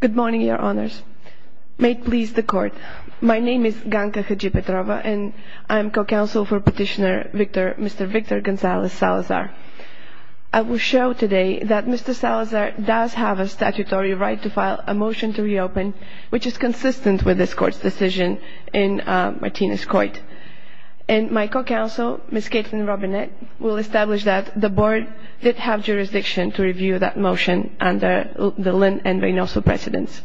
Good morning, Your Honors. May it please the Court, my name is Ganga Haji-Petrova, and I am co-counsel for Petitioner Mr. Victor Gonzalez Salazar. I will show today that Mr. Salazar does have a statutory right to file a motion to reopen, which is consistent with this Court's decision in Martinez-Coit. And my co-counsel, Ms. Caitlin Robinette, will establish that the Board did have jurisdiction to review that motion under the Lynn and Reynoso precedents.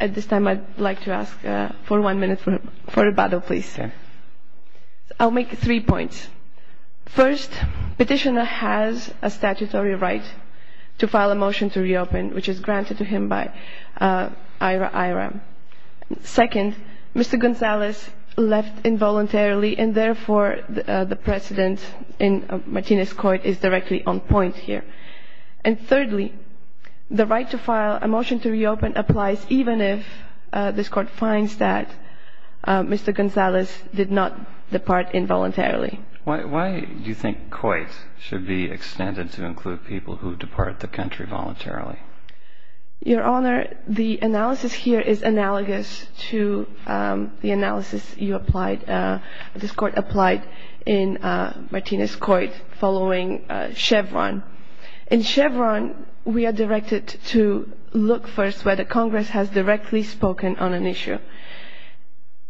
At this time, I'd like to ask for one minute for rebuttal, please. I'll make three points. First, Petitioner has a statutory right to file a motion to reopen, which is granted to him by IRA-IRA. Second, Mr. Gonzalez left involuntarily, and therefore the precedent in Martinez-Coit is directly on point here. And thirdly, the right to file a motion to reopen applies even if this Court finds that Mr. Gonzalez did not depart involuntarily. Why do you think Coit should be extended to include people who depart the country voluntarily? Your Honor, the analysis here is analogous to the analysis you applied, this Court applied in Martinez-Coit following Chevron. In Chevron, we are directed to look first whether Congress has directly spoken on an issue.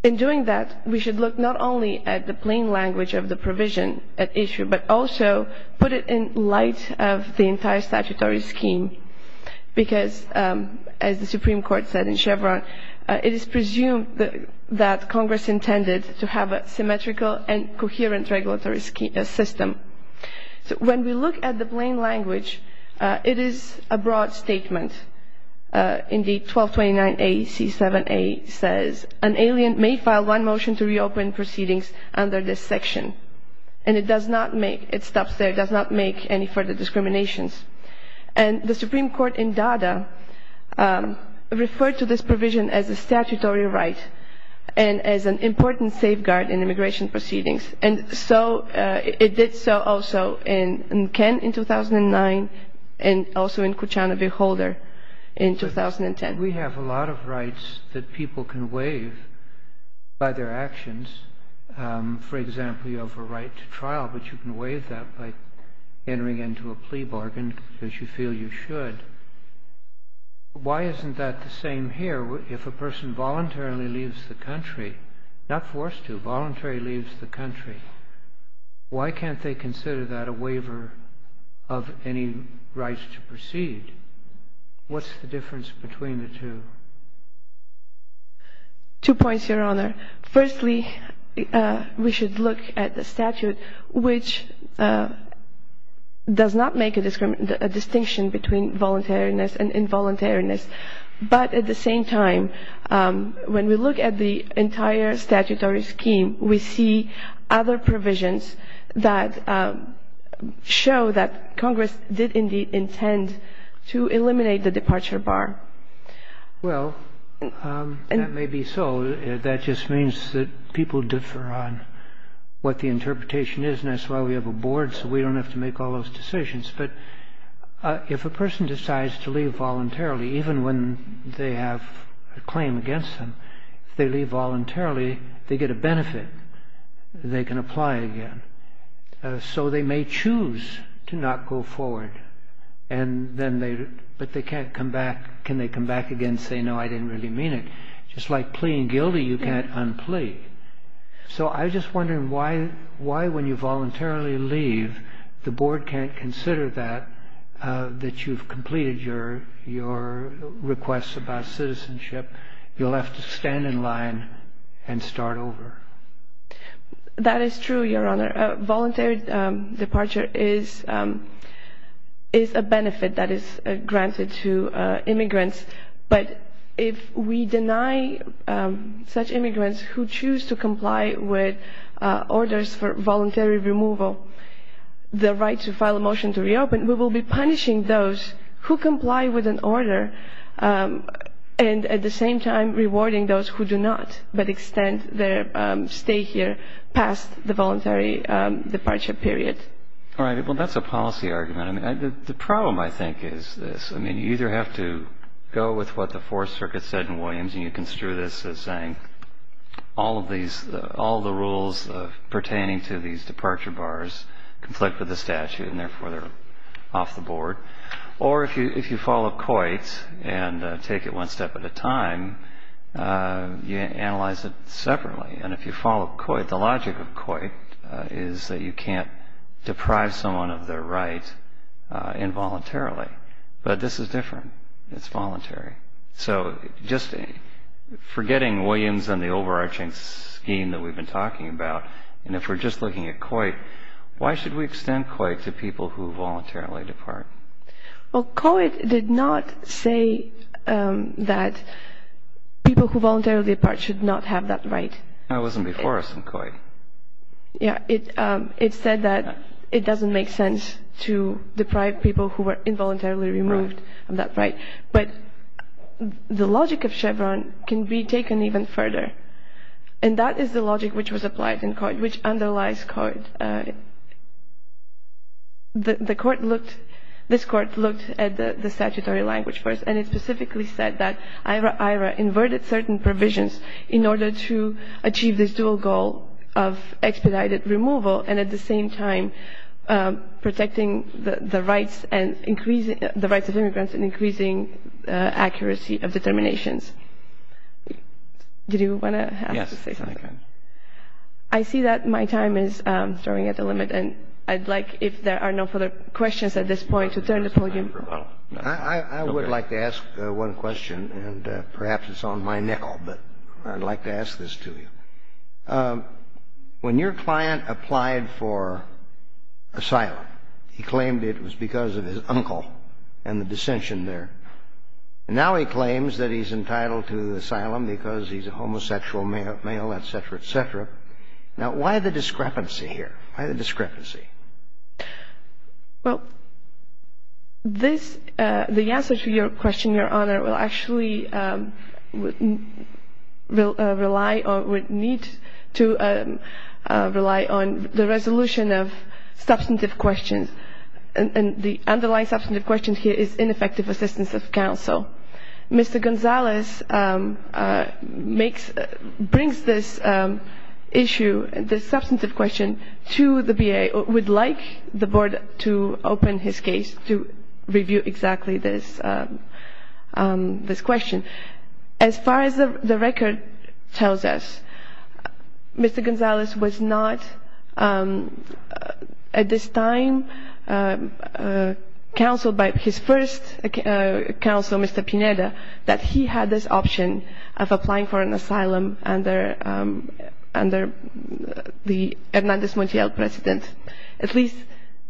In doing that, we should look not only at the plain language of the provision at issue, but also put it in light of the entire statutory scheme because, as the Supreme Court said in Chevron, it is presumed that Congress intended to have a symmetrical and coherent regulatory system. When we look at the plain language, it is a broad statement. Indeed, 1229A C7A says, an alien may file one motion to reopen proceedings under this section. And it does not make, it stops there, it does not make any further discriminations. And the Supreme Court in Dada referred to this provision as a statutory right and as an important safeguard in immigration proceedings. And so it did so also in Kent in 2009 and also in Kuchana v. Holder in 2010. We have a lot of rights that people can waive by their actions. For example, you have a right to trial, but you can waive that by entering into a plea bargain because you feel you should. Why isn't that the same here? If a person voluntarily leaves the country, not forced to, voluntarily leaves the country, why can't they consider that a waiver of any right to proceed? What's the difference between the two? Two points, Your Honor. Firstly, we should look at the statute, which does not make a distinction between voluntariness and involuntariness. But at the same time, when we look at the entire statutory scheme, we see other provisions that show that Congress did indeed intend to eliminate the departure bar. Well, that may be so. That just means that people differ on what the interpretation is, and that's why we have a board, so we don't have to make all those decisions. But if a person decides to leave voluntarily, even when they have a claim against them, if they leave voluntarily, they get a benefit. They can apply again. So they may choose to not go forward, but can they come back again and say, no, I didn't really mean it? Just like pleaing guilty, you can't unplea. So I'm just wondering why, when you voluntarily leave, the board can't consider that you've completed your request about citizenship. You'll have to stand in line and start over. That is true, Your Honor. Voluntary departure is a benefit that is granted to immigrants. But if we deny such immigrants who choose to comply with orders for voluntary removal the right to file a motion to reopen, we will be punishing those who comply with an order and, at the same time, rewarding those who do not but extend their stay here past the voluntary departure period. All right. Well, that's a policy argument. The problem, I think, is this. I mean, you either have to go with what the Fourth Circuit said in Williams, and you construe this as saying all the rules pertaining to these departure bars conflict with the statute, and therefore they're off the board. Or if you follow Coit and take it one step at a time, you analyze it separately. And if you follow Coit, the logic of Coit is that you can't deprive someone of their right involuntarily. But this is different. It's voluntary. So just forgetting Williams and the overarching scheme that we've been talking about, and if we're just looking at Coit, why should we extend Coit to people who voluntarily depart? Well, Coit did not say that people who voluntarily depart should not have that right. That wasn't before us in Coit. Yeah. It said that it doesn't make sense to deprive people who were involuntarily removed of that right. But the logic of Chevron can be taken even further. And that is the logic which was applied in Coit, which underlies Coit. The Court looked at the statutory language first, and it specifically said that IRA-IRA inverted certain provisions in order to achieve this dual goal of expedited removal and at the same time protecting the rights and increasing the rights of immigrants and increasing accuracy of determinations. Did you want to say something? Yes. I see that my time is drawing at a limit, and I'd like, if there are no further questions at this point, to turn the podium. I would like to ask one question, and perhaps it's on my nickel, but I'd like to ask this to you. When your client applied for asylum, he claimed it was because of his uncle and the dissension there. Now he claims that he's entitled to asylum because he's a homosexual male, et cetera, et cetera. Now, why the discrepancy here? Why the discrepancy? Well, this, the answer to your question, Your Honor, will actually rely or would need to rely on the resolution of substantive questions, and the underlying substantive question here is ineffective assistance of counsel. Mr. Gonzalez brings this issue, this substantive question, to the VA. We'd like the Board to open his case to review exactly this question. As far as the record tells us, Mr. Gonzalez was not at this time counseled by his first counsel, Mr. Pineda, that he had this option of applying for an asylum under the Hernandez Montiel president. At least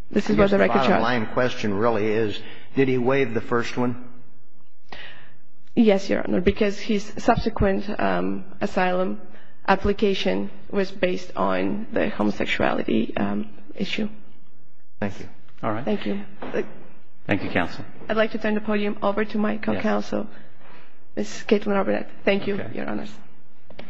this is what the record shows. The bottom line question really is, did he waive the first one? Yes, Your Honor, because his subsequent asylum application was based on the homosexuality issue. Thank you. All right. Thank you. Thank you, counsel. I'd like to turn the podium over to my co-counsel, Ms. Caitlin Arbonet. Thank you, Your Honor. Okay.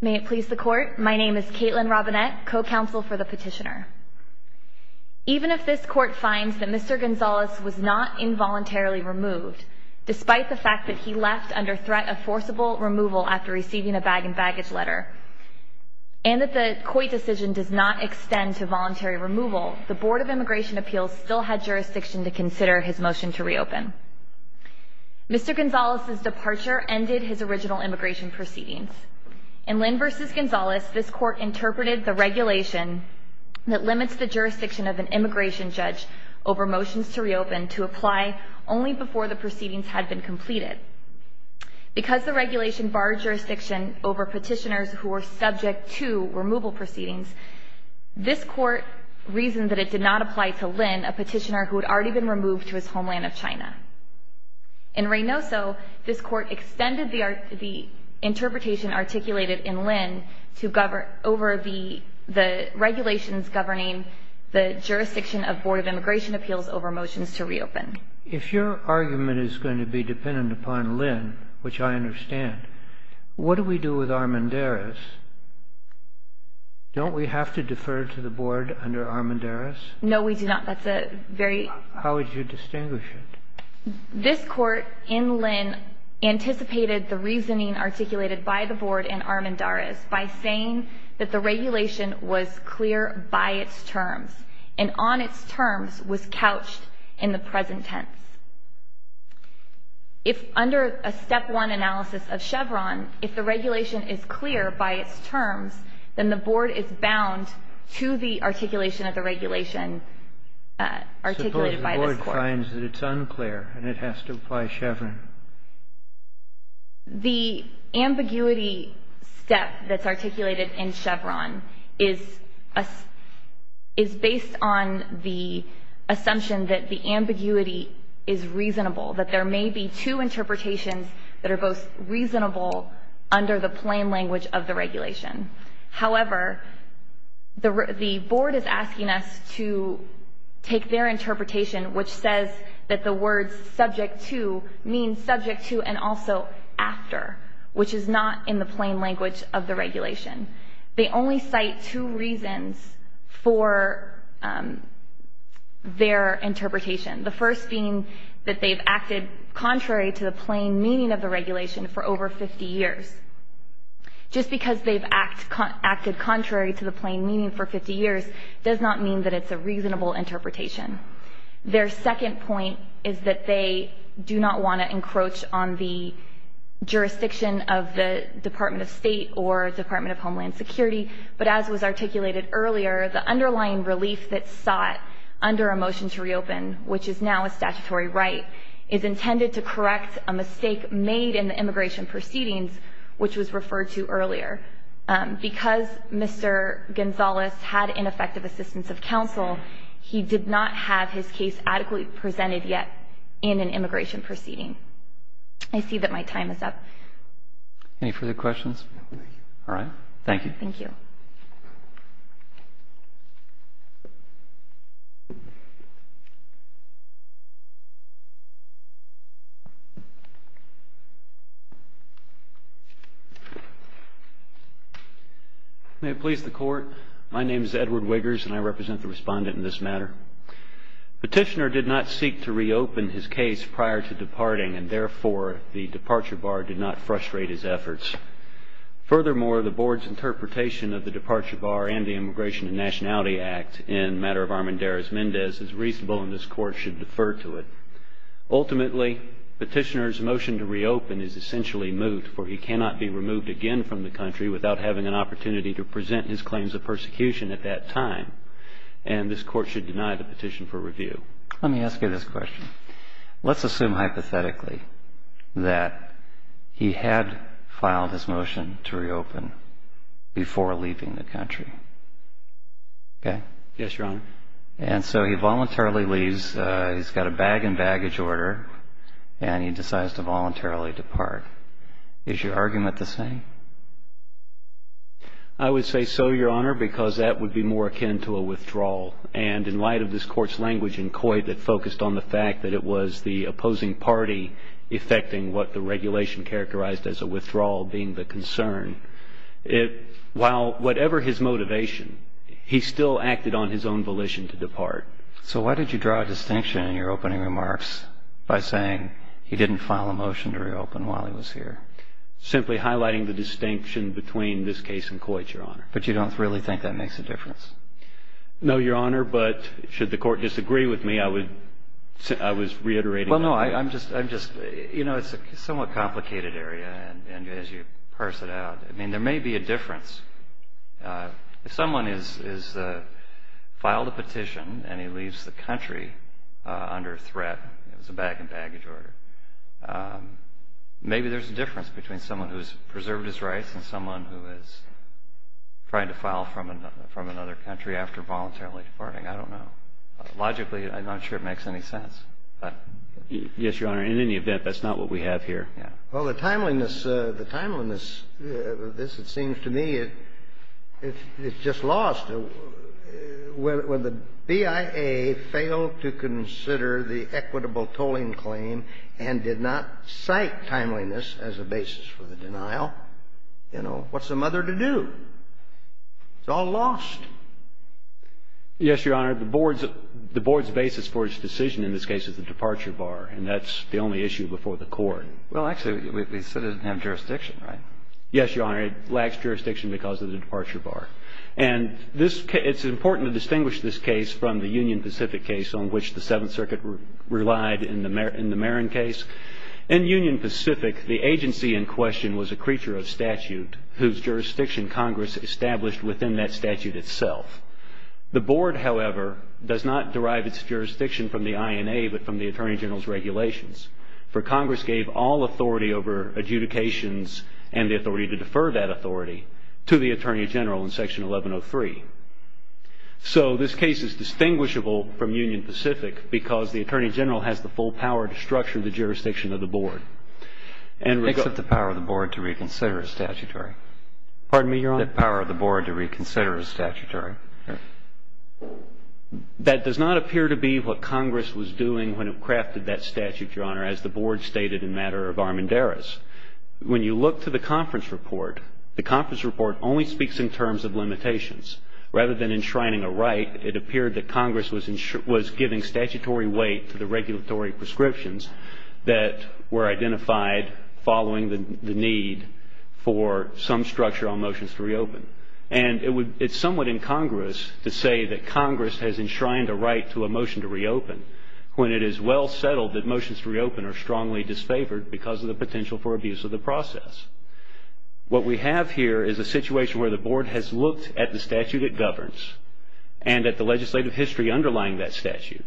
May it please the Court. My name is Caitlin Arbonet, co-counsel for the petitioner. Even if this Court finds that Mr. Gonzalez was not involuntarily removed, despite the fact that he left under threat of forcible removal after receiving a bag and baggage letter, and that the Coit decision does not extend to voluntary removal, the Board of Immigration Appeals still had jurisdiction to consider his motion to reopen. Mr. Gonzalez's departure ended his original immigration proceedings. In Lynn v. Gonzalez, this Court interpreted the regulation that limits the jurisdiction of an immigration judge over motions to reopen to apply only before the proceedings had been completed. Because the regulation barred jurisdiction over petitioners who were subject to removal proceedings, this Court reasoned that it did not apply to Lynn, a petitioner who had already been removed to his homeland of China. In Reynoso, this Court extended the interpretation articulated in Lynn over the regulations governing the jurisdiction of Board of Immigration Appeals over motions to reopen. If your argument is going to be dependent upon Lynn, which I understand, what do we do with Armendariz? Don't we have to defer to the Board under Armendariz? No, we do not. That's a very... How would you distinguish it? This Court in Lynn anticipated the reasoning articulated by the Board in Armendariz by saying that the regulation was clear by its terms and on its terms was couched in the present tense. If under a step one analysis of Chevron, if the regulation is clear by its terms, then the Board is bound to the articulation of the regulation articulated by this Court. The Board finds that it's unclear and it has to apply Chevron. The ambiguity step that's articulated in Chevron is based on the assumption that the ambiguity is reasonable, that there may be two interpretations that are both reasonable under the plain language of the regulation. However, the Board is asking us to take their interpretation, which says that the words subject to mean subject to and also after, which is not in the plain language of the regulation. They only cite two reasons for their interpretation, the first being that they've acted contrary to the plain meaning of the regulation for over 50 years. Just because they've acted contrary to the plain meaning for 50 years does not mean that it's a reasonable interpretation. Their second point is that they do not want to encroach on the jurisdiction of the Department of State or Department of Homeland Security, but as was articulated earlier, the underlying relief that's sought under a motion to reopen, which is now a statutory right, is intended to correct a mistake made in the immigration proceedings, which was referred to earlier. Because Mr. Gonzalez had ineffective assistance of counsel, he did not have his case adequately presented yet in an immigration proceeding. I see that my time is up. Any further questions? All right. Thank you. Thank you. May it please the Court. My name is Edward Wiggers and I represent the respondent in this matter. Petitioner did not seek to reopen his case prior to departing and therefore the departure bar did not frustrate his efforts. Furthermore, the Board's interpretation of the departure bar and the Immigration and Nationality Act in the matter of Armendariz-Mendez is reasonable and this Court should defer to it. Ultimately, Petitioner's motion to reopen is essentially moved for he cannot be removed again from the country without having an opportunity to present his claims of persecution at that time and this Court should deny the petition for review. Let me ask you this question. Let's assume hypothetically that he had filed his motion to reopen before leaving the country. Okay? Yes, Your Honor. And so he voluntarily leaves. He's got a bag and baggage order and he decides to voluntarily depart. Is your argument the same? I would say so, Your Honor, because that would be more akin to a withdrawal and in light of this Court's language in Coit that focused on the fact that it was the opposing party effecting what the regulation characterized as a withdrawal being the concern, while whatever his motivation, he still acted on his own volition to depart. So why did you draw a distinction in your opening remarks by saying he didn't file a motion to reopen while he was here? Simply highlighting the distinction between this case and Coit, Your Honor. But you don't really think that makes a difference? No, Your Honor, but should the Court disagree with me, I was reiterating my point. Well, no, I'm just, you know, it's a somewhat complicated area and as you parse it out, I mean, there may be a difference. If someone has filed a petition and he leaves the country under threat, it was a bag and baggage order, maybe there's a difference between someone who's preserved his rights and someone who is trying to file from another country after voluntarily departing. I don't know. Logically, I'm not sure it makes any sense. Yes, Your Honor, in any event, that's not what we have here. Well, the timeliness of this, it seems to me, it's just lost. When the BIA failed to consider the equitable tolling claim and did not cite timeliness as a basis for the denial, you know, what's the mother to do? It's all lost. Yes, Your Honor, the Board's basis for its decision in this case is the departure bar and that's the only issue before the Court. Well, actually, we still didn't have jurisdiction, right? Yes, Your Honor, it lacks jurisdiction because of the departure bar. And it's important to distinguish this case from the Union Pacific case on which the Seventh Circuit relied in the Marin case. whose jurisdiction Congress established within that statute itself. The Board, however, does not derive its jurisdiction from the INA but from the Attorney General's regulations for Congress gave all authority over adjudications and the authority to defer that authority to the Attorney General in Section 1103. So this case is distinguishable from Union Pacific because the Attorney General has the full power to structure the jurisdiction of the Board. Except the power of the Board to reconsider its statutory. Pardon me, Your Honor? The power of the Board to reconsider its statutory. That does not appear to be what Congress was doing when it crafted that statute, Your Honor, as the Board stated in matter of Armendaris. When you look to the conference report, the conference report only speaks in terms of limitations. Rather than enshrining a right, it appeared that Congress was giving statutory weight to the regulatory prescriptions that were identified following the need for some structure on motions to reopen. And it's somewhat incongruous to say that Congress has enshrined a right to a motion to reopen when it is well settled that motions to reopen are strongly disfavored because of the potential for abuse of the process. What we have here is a situation where the Board has looked at the statute it governs and at the legislative history underlying that statute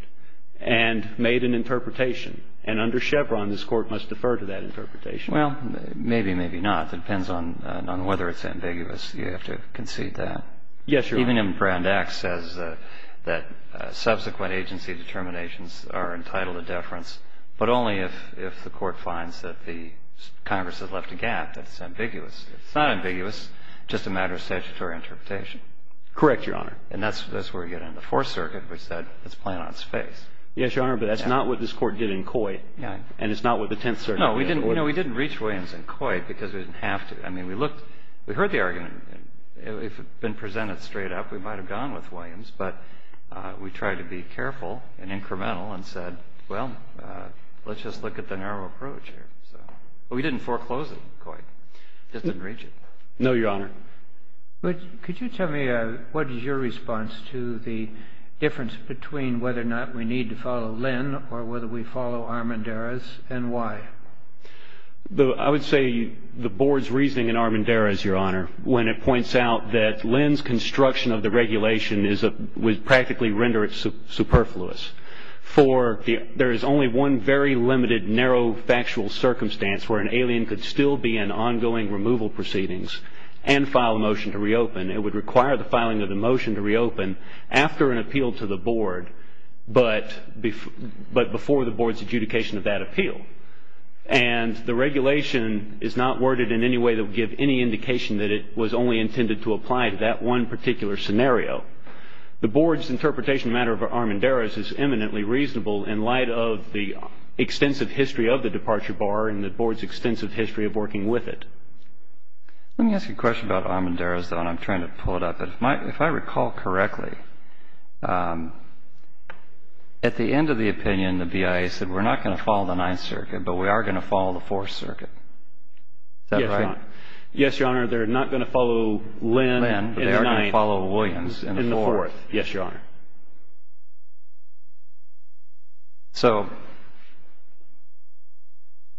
and made an interpretation. And under Chevron, this Court must defer to that interpretation. Well, maybe, maybe not. It depends on whether it's ambiguous. You have to concede that. Yes, Your Honor. Even if Brand X says that subsequent agency determinations are entitled to deference, but only if the Court finds that the Congress has left a gap, that it's ambiguous. It's not ambiguous, just a matter of statutory interpretation. Correct, Your Honor. And that's where we get into the Fourth Circuit, which said it's playing on its face. Yes, Your Honor, but that's not what this Court did in Coy. And it's not what the Tenth Circuit did in Coy. No, we didn't reach Williams in Coy because we didn't have to. I mean, we looked. We heard the argument. If it had been presented straight up, we might have gone with Williams. But we tried to be careful and incremental and said, well, let's just look at the narrow approach here. So we didn't foreclose it in Coy. Just didn't reach it. No, Your Honor. But could you tell me what is your response to the difference between whether or not we need to follow Lynn or whether we follow Armendariz and why? I would say the Board's reasoning in Armendariz, Your Honor, when it points out that Lynn's construction of the regulation would practically render it superfluous. For there is only one very limited, narrow, factual circumstance where an alien could still be in ongoing removal proceedings. And file a motion to reopen. It would require the filing of the motion to reopen after an appeal to the Board, but before the Board's adjudication of that appeal. And the regulation is not worded in any way to give any indication that it was only intended to apply to that one particular scenario. The Board's interpretation of the matter of Armendariz is eminently reasonable in light of the extensive history of the departure bar and the Board's extensive history of working with it. Let me ask you a question about Armendariz, though, and I'm trying to pull it up. If I recall correctly, at the end of the opinion, the BIA said, we're not going to follow the Ninth Circuit, but we are going to follow the Fourth Circuit. Is that right? Yes, Your Honor. They're not going to follow Lynn in the Ninth. They are going to follow Williams in the Fourth. Yes, Your Honor. So,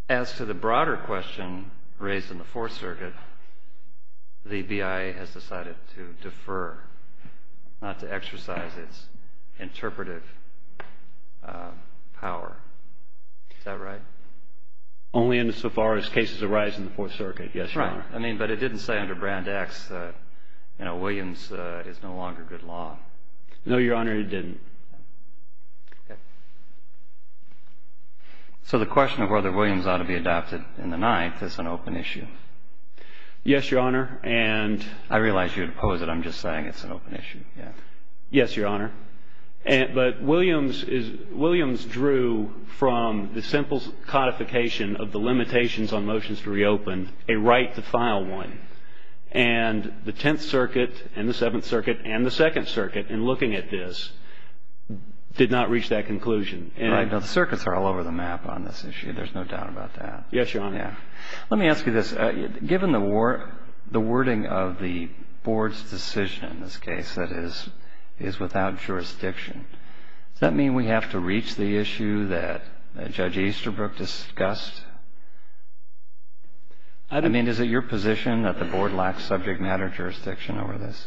as to the broader question raised in the Fourth Circuit, the BIA has decided to defer, not to exercise its interpretive power. Is that right? Only insofar as cases arise in the Fourth Circuit, yes, Your Honor. Right. I mean, but it didn't say under Brand X that, you know, Williams is no longer good law. No, Your Honor, it didn't. Okay. So, the question of whether Williams ought to be adopted in the Ninth is an open issue. Yes, Your Honor, and... I realize you would oppose it. I'm just saying it's an open issue. Yes, Your Honor. But Williams drew from the simple codification of the limitations on motions to reopen a right to file one, and the Tenth Circuit and the Seventh Circuit and the Second Circuit, in looking at this, did not reach that conclusion. Right. Now, the circuits are all over the map on this issue. There's no doubt about that. Yes, Your Honor. Yeah. Let me ask you this. Given the wording of the Board's decision in this case that is without jurisdiction, does that mean we have to reach the issue that Judge Easterbrook discussed? I don't... Does that mean the Board lacks subject matter jurisdiction over this?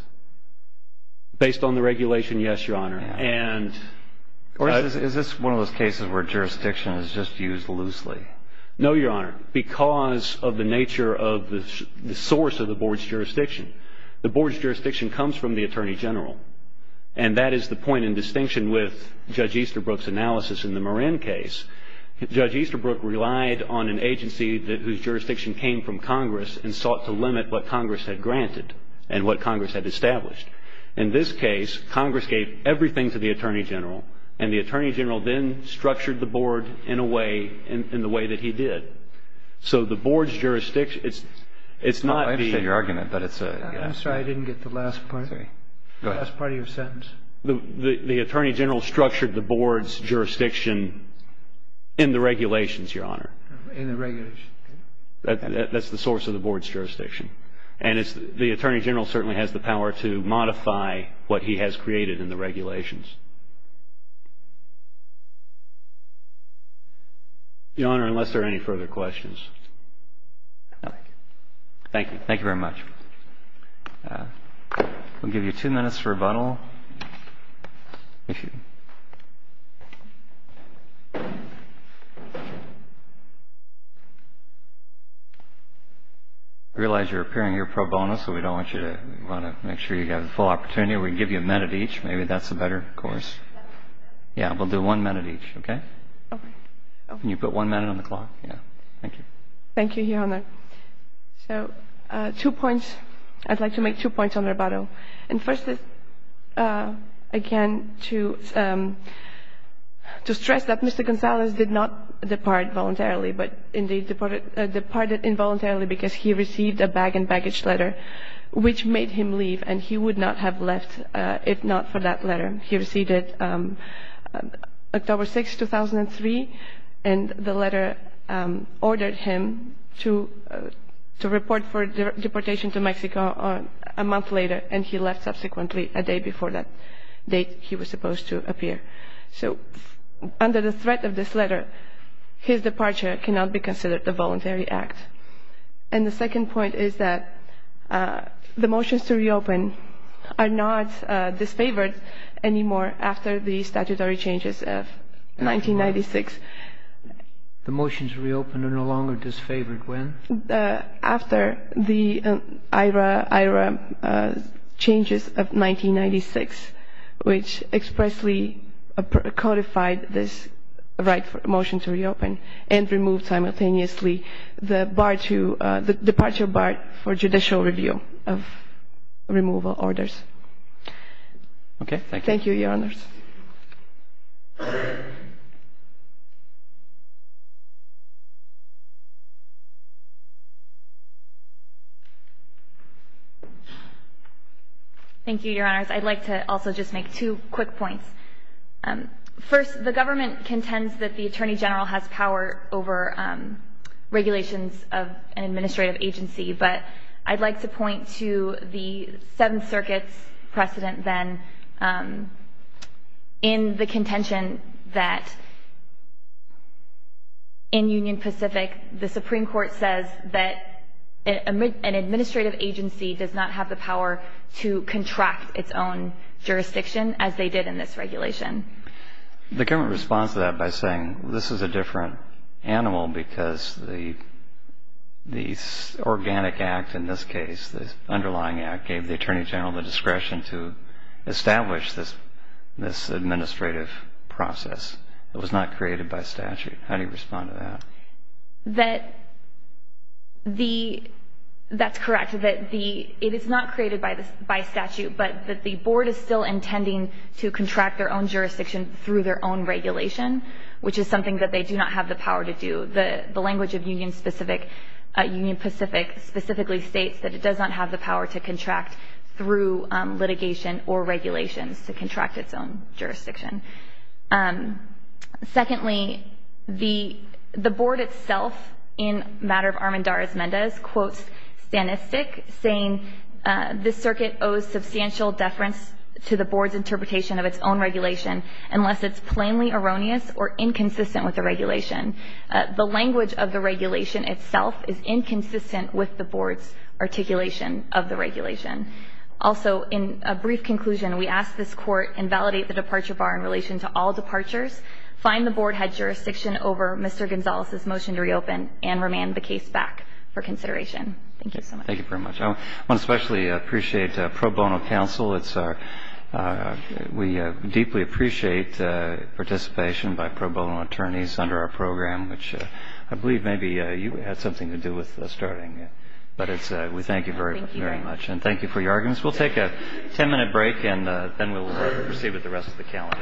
Based on the regulation, yes, Your Honor. Yeah. And... Is this one of those cases where jurisdiction is just used loosely? No, Your Honor, because of the nature of the source of the Board's jurisdiction. The Board's jurisdiction comes from the Attorney General, and that is the point in distinction with Judge Easterbrook's analysis in the Marin case. Judge Easterbrook relied on an agency whose jurisdiction came from Congress and sought to limit what Congress had granted and what Congress had established. In this case, Congress gave everything to the Attorney General, and the Attorney General then structured the Board in a way, in the way that he did. So the Board's jurisdiction... It's not the... I understand your argument, but it's a... I'm sorry. I didn't get the last part of your sentence. The Attorney General structured the Board's jurisdiction in the regulations, Your Honor. In the regulations. That's the source of the Board's jurisdiction. And the Attorney General certainly has the power to modify what he has created in the regulations. Your Honor, unless there are any further questions. Thank you. Thank you very much. We'll give you two minutes for rebuttal. I realize you're appearing here pro bono, so we don't want you to... We want to make sure you have the full opportunity. We can give you a minute each. Maybe that's a better course. Yeah, we'll do one minute each. Okay? Okay. Can you put one minute on the clock? Yeah. Thank you. Thank you, Your Honor. So, two points. I'd like to make two points on rebuttal. And first is, again, to stress that Mr. Gonzalez did not depart voluntarily, but indeed departed involuntarily because he received a bag and baggage letter, which made him leave, and he would not have left if not for that letter. He received it October 6, 2003, and the letter ordered him to report for deportation to Mexico a month later, and he left subsequently a day before that date he was supposed to appear. So, under the threat of this letter, his departure cannot be considered a voluntary act. And the second point is that the motions to reopen are not disfavored anymore after the statutory changes of 1996. The motions to reopen are no longer disfavored when? After the IHRA changes of 1996, which expressly codified this right for a motion to reopen and remove simultaneously the departure bar for judicial review of removal orders. Okay. Thank you. Thank you, Your Honors. Thank you, Your Honors. I'd like to also just make two quick points. First, the government contends that the Attorney General has power over regulations of an administrative agency, but I'd like to point to the Seventh Circuit's precedent then in the contention that in Union Pacific, the Supreme Court says that an administrative agency does not have the power to contract its own jurisdiction as they did in this regulation. The government responds to that by saying, this is a different animal because the organic act in this case, the underlying act gave the Attorney General the discretion to establish this administrative process. It was not created by statute. How do you respond to that? That's correct. It is not created by statute, but the board is still intending to contract their own jurisdiction through their own regulation, which is something that they do not have the power to do. The language of Union Pacific specifically states that it does not have the power to contract through litigation or regulations to contract its own jurisdiction. Secondly, the board itself in matter of Armendariz-Mendez quotes Stanistic saying, this circuit owes substantial deference to the board's interpretation of its own regulation unless it's plainly erroneous or inconsistent with the regulation. The language of the regulation itself is inconsistent with the board's articulation of the regulation. Also, in a brief conclusion, we ask this court invalidate the departure bar in relation to all departures, find the board had jurisdiction over Mr. Gonzalez's motion to reopen, and remand the case back for consideration. Thank you so much. Thank you very much. I especially appreciate pro bono counsel. We deeply appreciate participation by pro bono attorneys under our program, which I believe maybe you had something to do with starting. But we thank you very much. Thank you. And thank you for your arguments. We'll take a ten-minute break, and then we'll proceed with the rest of the calendar.